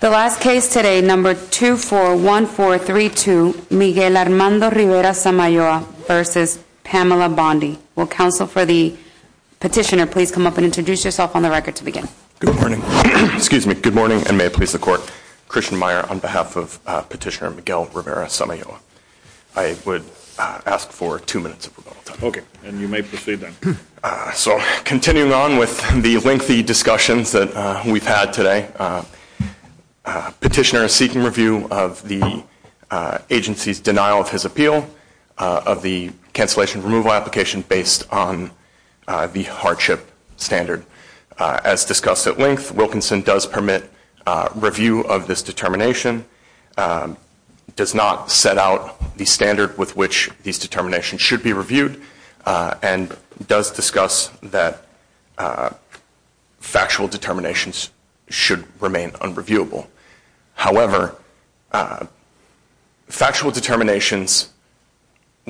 The last case today, number 241432, Miguel Armando Rivera Samayoa versus Pamela Bondi. Will counsel for the petitioner please come up and introduce yourself on the record to begin. Good morning. Excuse me. Good morning and may it please the court. Christian Meyer on behalf of petitioner Miguel Rivera Samayoa. I would ask for two minutes of rebuttal time. Okay. And you may proceed then. So continuing on with the lengthy discussions that we've had today, petitioner is seeking review of the agency's denial of his appeal of the cancellation removal application based on the hardship standard. As discussed at length, Wilkinson does permit review of this determination, does not set out the standard with which these determinations should be reviewed and does discuss that factual determinations should remain unreviewable. However, factual determinations,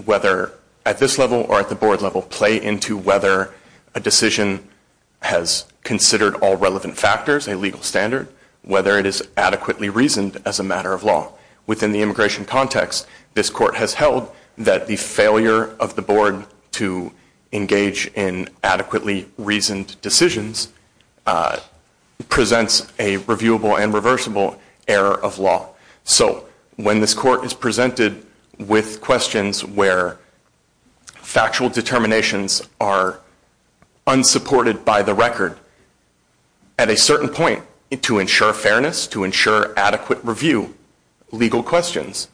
whether at this level or at the board level, play into whether a decision has considered all relevant factors, a legal standard, whether it is adequately reasoned as a matter of law. Within the immigration context, this court has held that the failure of the board to engage in adequately reasoned decisions presents a reviewable and reversible error of law. So when this court is presented with questions where factual determinations are unsupported by the record, at a certain point, to ensure fairness, to ensure adequate review, legal questions,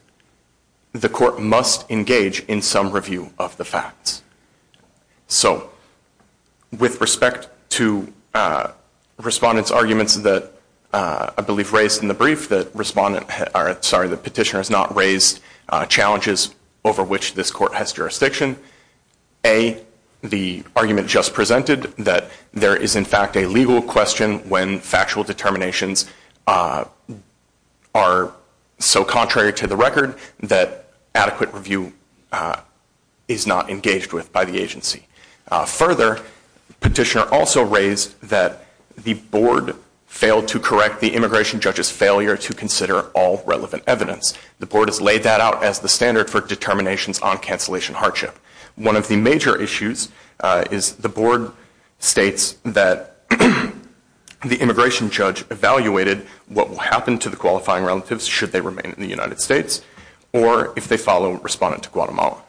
the court must engage in some review of the facts. So with respect to respondent's arguments that I believe raised in the brief that respondent or sorry, the petitioner has not raised challenges over which this court has jurisdiction, A, the argument just presented that there is, in fact, a legal question when factual determinations are so contrary to the record that adequate review is not engaged with by the agency. Further, the petitioner also raised that the board failed to correct the immigration judge's failure to consider all relevant evidence. The board has laid that out as the standard for determinations on cancellation hardship. One of the major issues is the board states that the immigration judge evaluated what will happen to the qualifying relatives should they remain in the United States or if they follow respondent to Guatemala.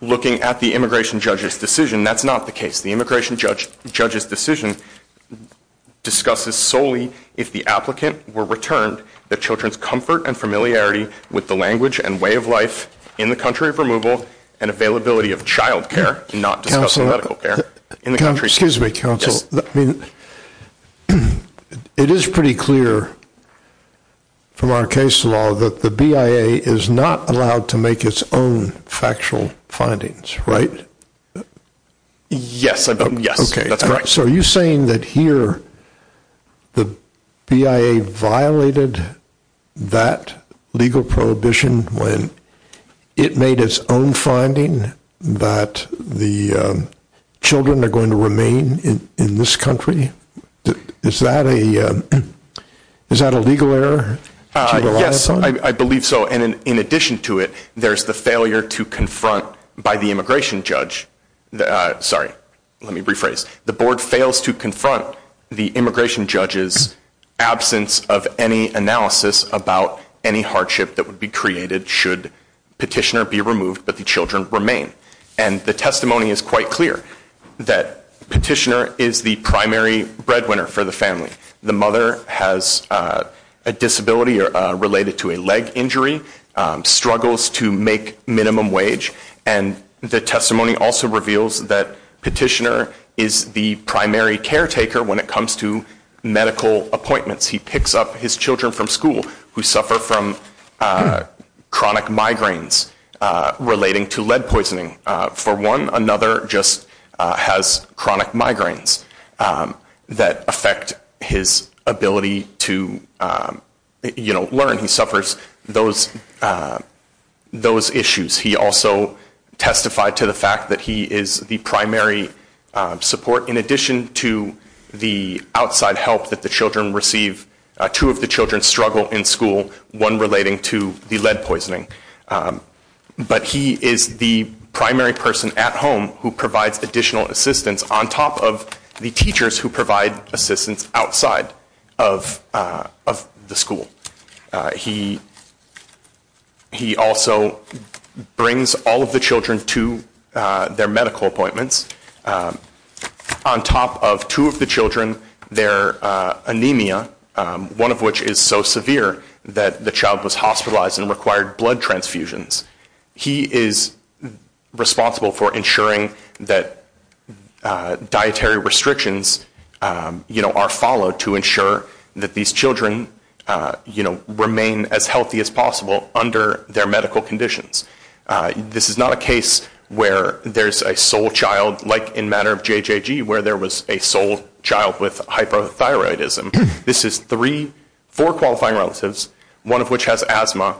Looking at the immigration judge's decision, that's not the case. The immigration judge's decision discusses solely if the applicant were returned the children's comfort and familiarity with the language and way of life in the country of possible and availability of child care, not just medical care in the country. Excuse me, counsel, it is pretty clear from our case law that the BIA is not allowed to make its own factual findings, right? Yes. Okay. That's correct. So are you saying that here the BIA violated that legal prohibition when it made its own finding that the children are going to remain in this country? Is that a legal error? Yes, I believe so. And in addition to it, there's the failure to confront by the immigration judge. Sorry, let me rephrase. The board fails to confront the immigration judge's absence of any analysis about any hardship that would be created should petitioner be removed but the children remain. And the testimony is quite clear that petitioner is the primary breadwinner for the family. The mother has a disability related to a leg injury, struggles to make minimum wage, and the testimony also reveals that petitioner is the primary caretaker when it comes to medical appointments. He picks up his children from school who suffer from chronic migraines relating to lead poisoning. For one, another just has chronic migraines that affect his ability to, you know, learn. He suffers those issues. He also testified to the fact that he is the primary support in addition to the outside help that the children receive. Two of the children struggle in school, one relating to the lead poisoning. But he is the primary person at home who provides additional assistance on top of the teachers who provide assistance outside of the school. He also brings all of the children to their medical appointments. On top of two of the children, their anemia, one of which is so severe that the child was hospitalized and required blood transfusions, he is responsible for ensuring that dietary restrictions, you know, are followed to ensure that these children, you know, remain as healthy as possible under their medical conditions. This is not a case where there's a sole child like in matter of JJG where there was a sole child with hypothyroidism. This is three, four qualifying relatives, one of which has asthma.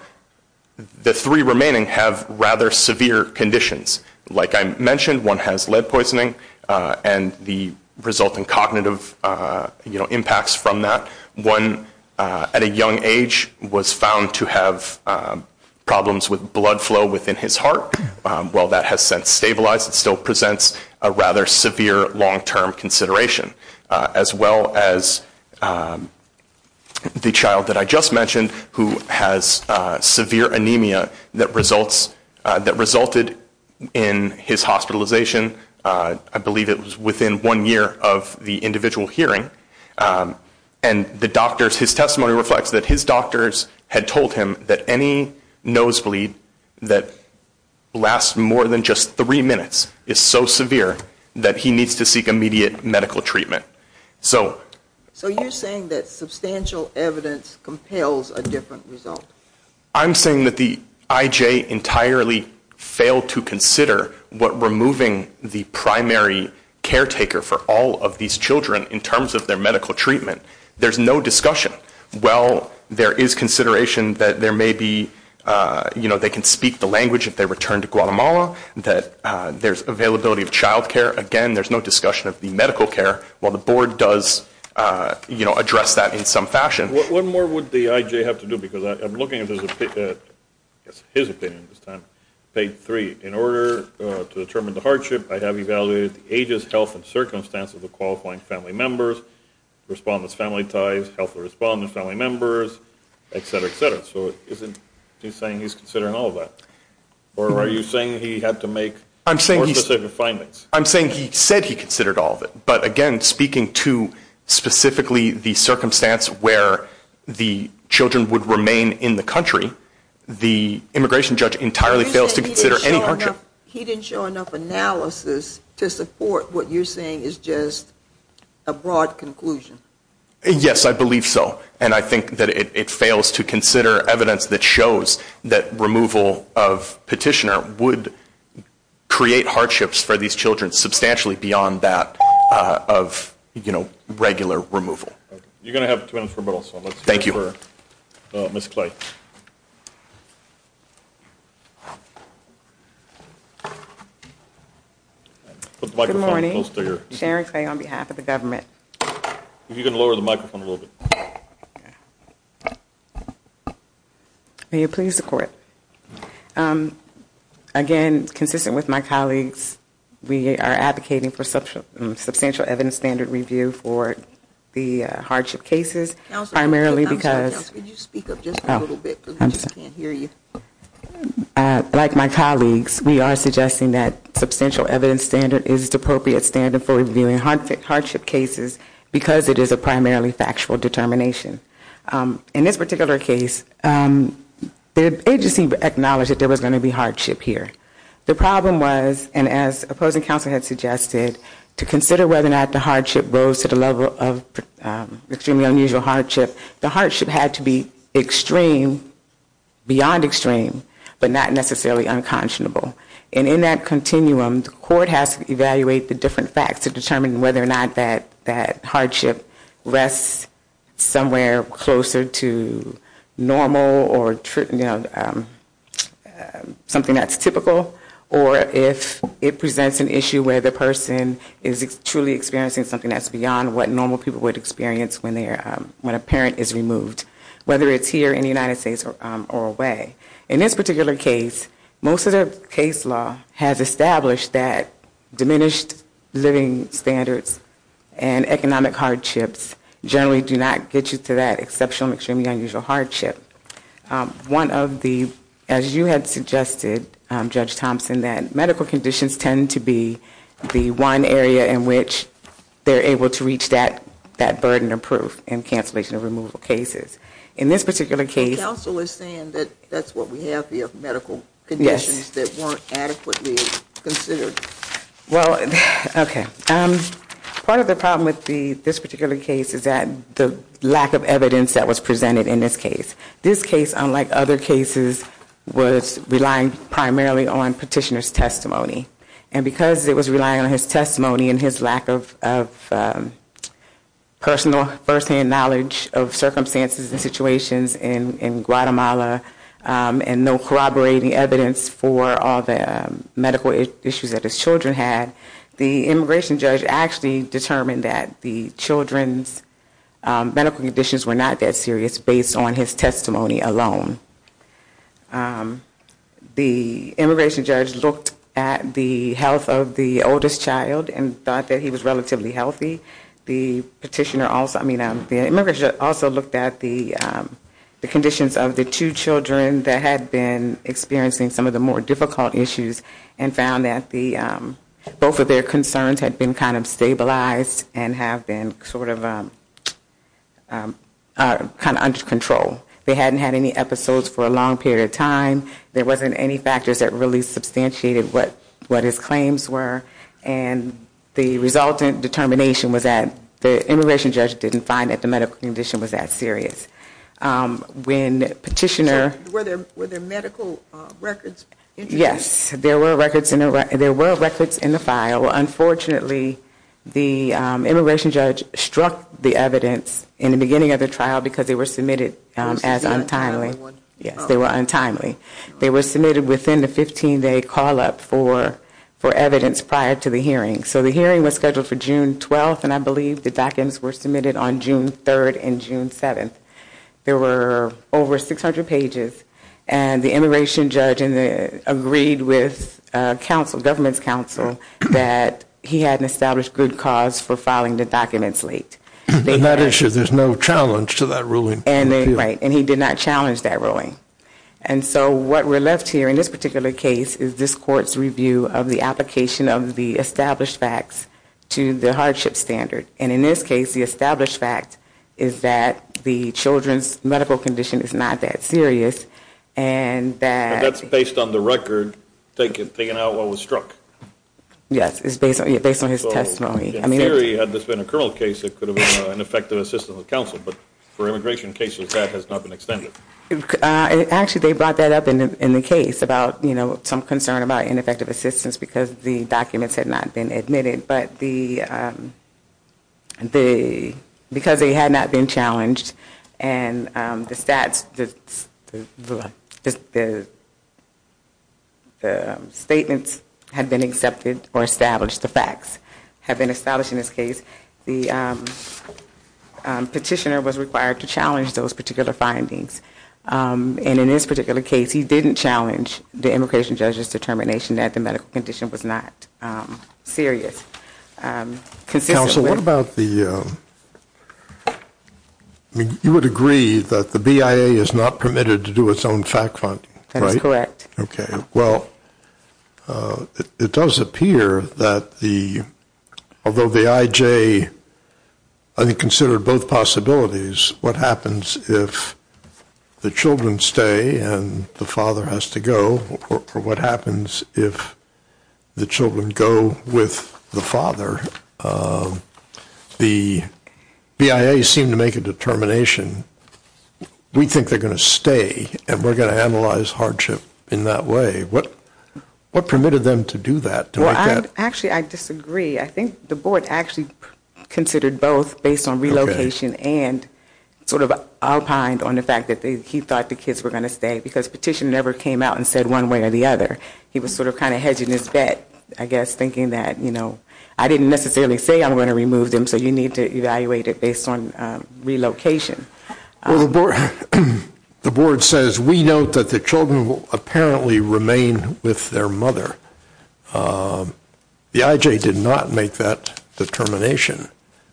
The three remaining have rather severe conditions. Like I mentioned, one has lead poisoning and the resulting cognitive, you know, impacts from that. One at a young age was found to have problems with blood flow within his heart. While that has since stabilized, it still presents a rather severe long-term consideration. As well as the child that I just mentioned who has severe anemia that resulted in his hospitalization, I believe it was within one year of the individual hearing. And the doctors, his testimony reflects that his doctors had told him that any nosebleed that lasts more than just three minutes is so severe that he needs to seek immediate medical treatment. So... So you're saying that substantial evidence compels a different result? I'm saying that the IJ entirely failed to consider what removing the primary caretaker for all of these children in terms of their medical treatment. There's no discussion. While there is consideration that there may be, you know, they can speak the language if they return to Guatemala, that there's availability of child care. Again, there's no discussion of the medical care. While the board does, you know, address that in some fashion. What more would the IJ have to do? Because I'm looking at his opinion this time, page three. In order to determine the hardship, I have evaluated the ages, health, and circumstance of the qualifying family members, respondents' family ties, health of respondents, family members, et cetera, et cetera. So isn't he saying he's considering all of that? Or are you saying he had to make more specific findings? I'm saying he said he considered all of it. But, again, speaking to specifically the circumstance where the children would remain in the country, the immigration judge entirely fails to consider any hardship. He didn't show enough analysis to support what you're saying is just a broad conclusion. Yes, I believe so. And I think that it fails to consider evidence that shows that removal of petitioner would create hardships for these children substantially beyond that of, you know, regular removal. You're going to have two minutes for rebuttal. Thank you. Ms. Clay. Good morning. Sharon Clay on behalf of the government. If you can lower the microphone a little bit. May it please the Court. Again, consistent with my colleagues, we are advocating for substantial evidence standard review for the hardship cases primarily because like my colleagues, we are suggesting that substantial evidence standard is the appropriate standard for reviewing hardship cases because it is a primarily factual determination. In this particular case, the agency acknowledged that there was going to be hardship here. The problem was, and as opposing counsel had suggested, to consider whether or not the hardship rose to the level of extremely unusual hardship, the hardship had to be extreme, beyond extreme, but not necessarily unconscionable. And in that continuum, the Court has to evaluate the different facts to determine whether or not that hardship rests somewhere closer to normal or something that's typical, or if it presents an issue where the person is truly experiencing something that's beyond what normal people would experience when a parent is removed, whether it's here in the United States or away. In this particular case, most of the case law has established that diminished living standards and economic hardships generally do not get you to that exceptional, extremely unusual hardship. One of the, as you had suggested, Judge Thompson, that medical conditions tend to be the one area in which they're able to reach that burden of proof in cancellation of removal cases. In this particular case- The counsel is saying that that's what we have here, medical conditions that weren't adequately considered. Well, okay. Part of the problem with this particular case is that the lack of evidence that was presented in this case. This case, unlike other cases, was relying primarily on petitioner's testimony. And because it was relying on his testimony and his lack of personal first-hand knowledge of circumstances and situations in Guatemala, and no corroborating evidence for all the medical issues that his children had, the immigration judge actually determined that the children's medical conditions were not that serious based on his testimony alone. The immigration judge looked at the health of the oldest child and thought that he was relatively healthy. The petitioner also, I mean, the immigration judge also looked at the conditions of the two children that had been experiencing some of the more difficult issues and found that both of their concerns had been kind of stabilized and have been sort of kind of under control. They hadn't had any episodes for a long period of time. There wasn't any factors that really substantiated what his claims were. And the resultant determination was that the immigration judge didn't find that the medical condition was that serious. When petitioner – Were there medical records? Yes, there were records in the file. Unfortunately, the immigration judge struck the evidence in the beginning of the trial because they were submitted as untimely. Yes, they were untimely. They were submitted within the 15-day call-up for evidence prior to the hearing. So the hearing was scheduled for June 12th, and I believe the documents were submitted on June 3rd and June 7th. There were over 600 pages, and the immigration judge agreed with government's counsel that he had an established good cause for filing the documents late. In that issue, there's no challenge to that ruling. Right, and he did not challenge that ruling. And so what we're left here in this particular case is this court's review of the application of the established facts to the hardship standard. And in this case, the established fact is that the children's medical condition is not that serious, and that – But that's based on the record, taking out what was struck. Yes, it's based on his testimony. So, in theory, had this been a criminal case, it could have been an effective assistance of counsel. But for immigration cases, that has not been extended. Actually, they brought that up in the case about, you know, some concern about ineffective assistance because the documents had not been admitted. But the – because they had not been challenged, and the stats – the statements had been accepted or established, the facts had been established in this case. The petitioner was required to challenge those particular findings. And in this particular case, he didn't challenge the immigration judge's determination that the medical condition was not serious. Counsel, what about the – you would agree that the BIA is not permitted to do its own fact-finding, right? That is correct. Okay. Well, it does appear that the – although the IJ, I think, considered both possibilities, what happens if the children stay and the father has to go, or what happens if the children go with the father? The BIA seemed to make a determination, we think they're going to stay and we're going to analyze hardship in that way. What permitted them to do that? Well, actually, I disagree. I think the board actually considered both based on relocation and sort of alpine on the fact that he thought the kids were going to stay because petition never came out and said one way or the other. He was sort of kind of hedging his bet, I guess, thinking that, you know, I didn't necessarily say I'm going to remove them so you need to evaluate it based on relocation. Well, the board says we note that the children will apparently remain with their mother. The IJ did not make that determination.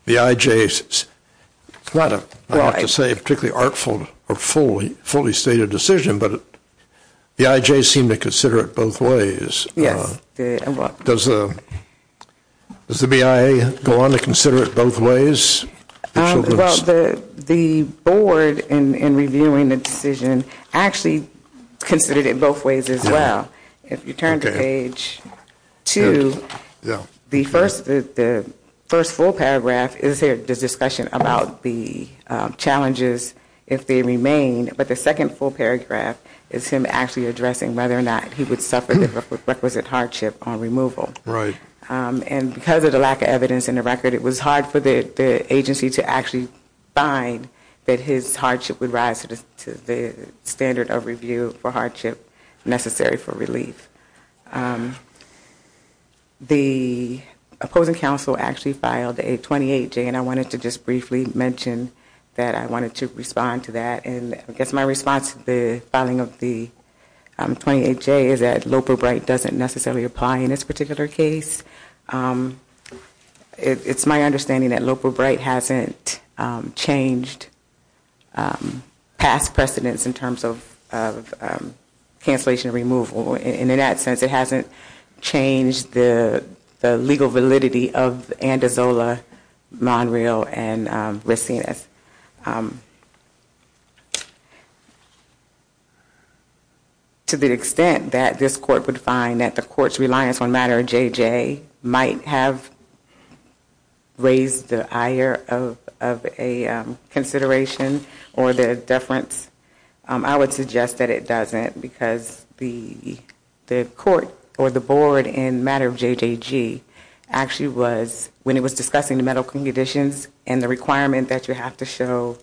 The IJ, it's not a particularly artful or fully stated decision, but the IJ seemed to consider it both ways. Does the BIA go on to consider it both ways? Well, the board in reviewing the decision actually considered it both ways as well. If you turn to page 2, the first full paragraph is the discussion about the challenges if they remain, but the second full paragraph is him actually addressing whether or not he would suffer the requisite hardship on removal. Right. And because of the lack of evidence in the record, it was hard for the agency to actually find that his hardship would rise to the standard of review for hardship necessary for relief. The opposing counsel actually filed a 28-J, and I wanted to just briefly mention that I wanted to respond to that. And I guess my response to the filing of the 28-J is that Loper-Bright doesn't necessarily apply in this particular case. It's my understanding that Loper-Bright hasn't changed past precedents in terms of cancellation of removal. And in that sense, it hasn't changed the legal validity of Andazola, Monreal, and Racines. To the extent that this court would find that the court's reliance on Matter of JJ might have raised the ire of a consideration or the deference, I would suggest that it doesn't because the court or the board in Matter of JJG actually was, when it was discussing the medical conditions and the requirement that you have to show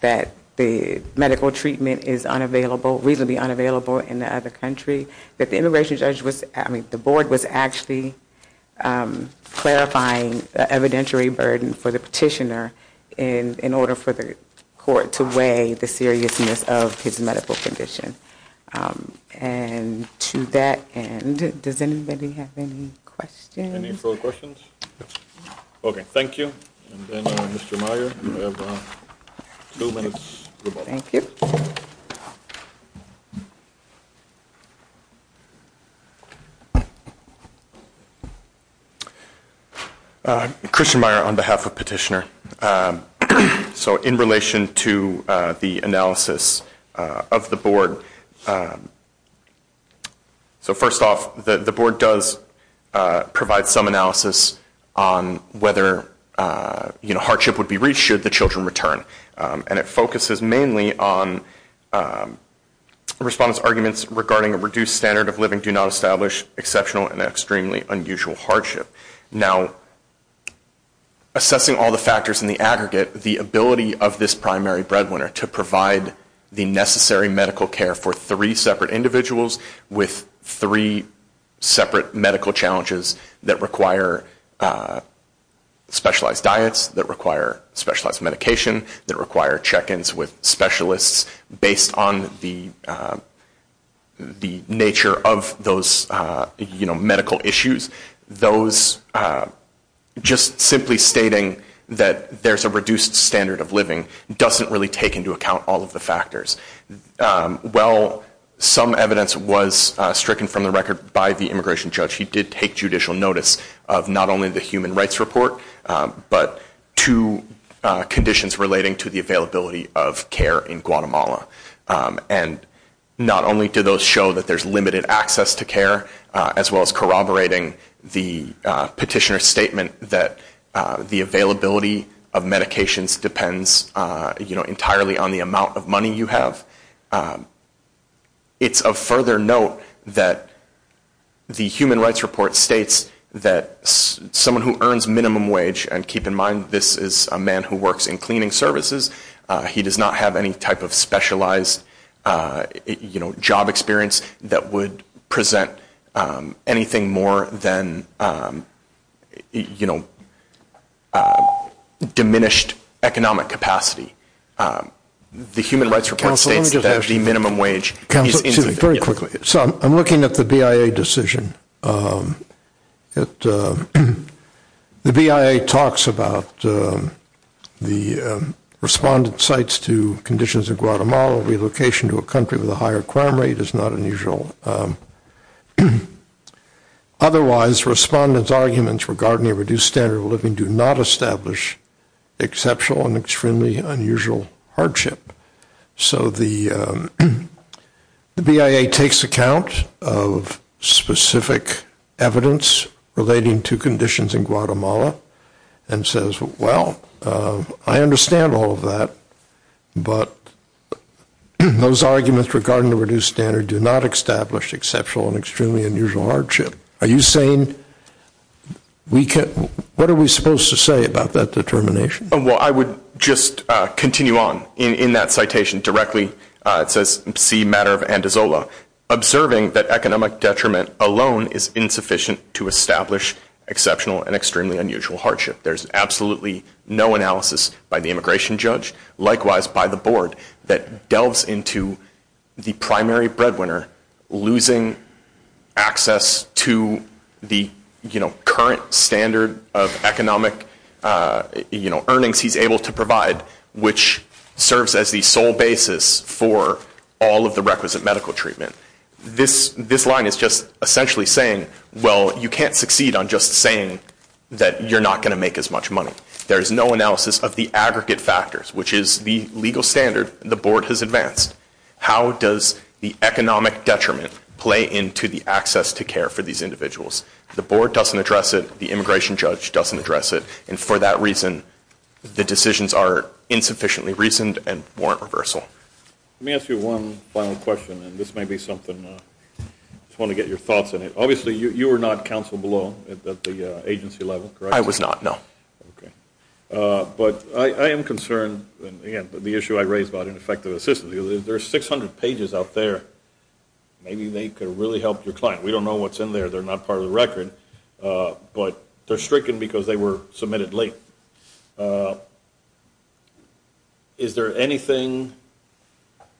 that the medical treatment is unavailable, reasonably unavailable in the other country, that the immigration judge was, I mean, the board was actually clarifying the evidentiary burden for the petitioner in order for the court to weigh the seriousness of his medical condition. And to that end, does anybody have any questions? Any further questions? Okay, thank you. And then, Mr. Meyer, you have two minutes. Thank you. Christian Meyer on behalf of Petitioner. So in relation to the analysis of the board, so first off, the board does provide some analysis on whether, you know, respondents' arguments regarding a reduced standard of living do not establish exceptional and extremely unusual hardship. Now, assessing all the factors in the aggregate, the ability of this primary breadwinner to provide the necessary medical care for three separate individuals with three separate medical challenges that require specialized diets, that require specialized medication, that require check-ins with specialists based on the nature of those medical issues, those just simply stating that there's a reduced standard of living doesn't really take into account all of the factors. Well, some evidence was stricken from the record by the immigration judge. He did take judicial notice of not only the human rights report, but two conditions relating to the availability of care in Guatemala. And not only do those show that there's limited access to care, as well as corroborating the petitioner's statement that the availability of medications depends, you know, on how much money you have, it's of further note that the human rights report states that someone who earns minimum wage, and keep in mind this is a man who works in cleaning services, he does not have any type of specialized, you know, job experience that would present anything more than, you know, diminished economic capacity. The human rights report states that the minimum wage... Counsel, very quickly. So I'm looking at the BIA decision. The BIA talks about the respondent's sites to conditions in Guatemala, relocation to a country with a higher crime rate is not unusual. Otherwise, respondent's arguments regarding a reduced standard of living do not establish exceptional and extremely unusual hardship. So the BIA takes account of specific evidence relating to conditions in Guatemala, and says, well, I understand all of that, but those arguments regarding the reduced standard do not establish exceptional and extremely unusual hardship. Are you saying we can't, what are we supposed to say about that determination? Well, I would just continue on in that citation directly. It says, see matter of Andazola. Observing that economic detriment alone is insufficient to establish exceptional and extremely unusual hardship. There's absolutely no analysis by the immigration judge, likewise by the board, that delves into the primary breadwinner losing access to the, you know, current standard of economic, you know, earnings he's able to provide, which serves as the sole basis for all of the requisite medical treatment. This line is just essentially saying, well, you can't succeed on just saying that you're not going to make as much money. There is no analysis of the aggregate factors, which is the legal standard the board has advanced. How does the economic detriment play into the access to care for these individuals? The board doesn't address it, the immigration judge doesn't address it, and for that reason the decisions are insufficiently reasoned and warrant reversal. Let me ask you one final question, and this may be something, I just want to get your thoughts on it. Obviously you were not counsel below at the agency level, correct? I was not, no. Okay. But I am concerned, and again, the issue I raised about ineffective assistance, there are 600 pages out there, maybe they could really help your client. We don't know what's in there, they're not part of the record, but they're stricken because they were submitted late. Is there anything,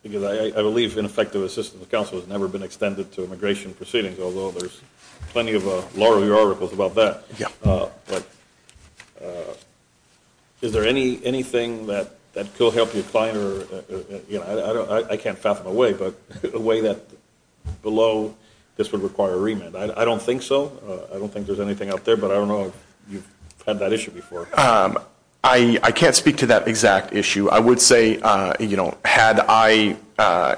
because I believe ineffective assistance with counsel has never been extended to immigration proceedings, although there's plenty of law review articles about that. Yeah. Is there anything that could help your client, I can't fathom a way, but a way that below this would require a remit. I don't think so, I don't think there's anything out there, but I don't know if you've had that issue before. I can't speak to that exact issue. I would say, you know, had I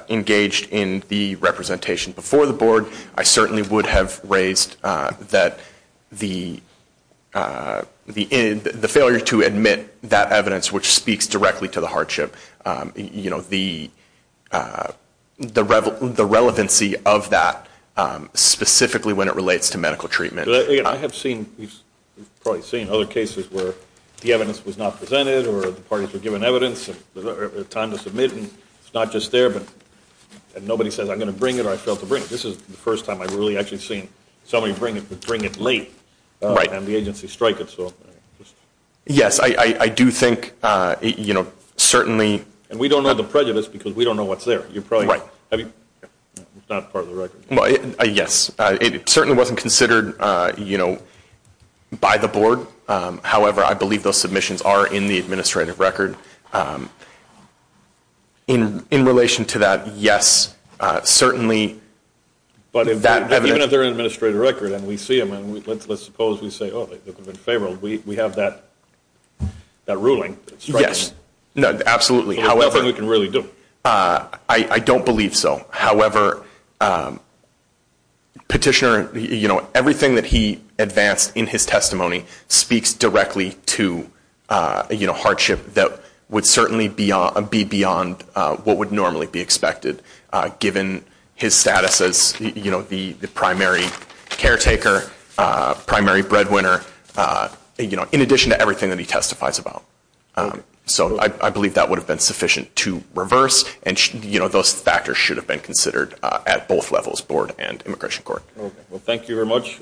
engaged in the representation before the board, I certainly would have raised that the failure to admit that evidence which speaks directly to the hardship, you know, the relevancy of that specifically when it relates to medical treatment. I have seen, you've probably seen other cases where the evidence was not presented or the parties were given evidence and time to submit and it's not just there, but nobody says I'm going to bring it or I failed to bring it. This is the first time I've really actually seen somebody bring it late and the agency strike it. Yes, I do think, you know, certainly. And we don't know the prejudice because we don't know what's there. Right. It's not part of the record. Yes, it certainly wasn't considered, you know, by the board. However, I believe those submissions are in the administrative record. In relation to that, yes, certainly. But even if they're in administrative record and we see them and let's suppose we say, oh, they could have been favorable, we have that ruling. Yes, absolutely. That's the only thing we can really do. I don't believe so. However, Petitioner, you know, everything that he advanced in his testimony speaks directly to, you know, his status as, you know, the primary caretaker, primary breadwinner, you know, in addition to everything that he testifies about. So I believe that would have been sufficient to reverse and, you know, those factors should have been considered at both levels, board and immigration court. Well, thank you very much.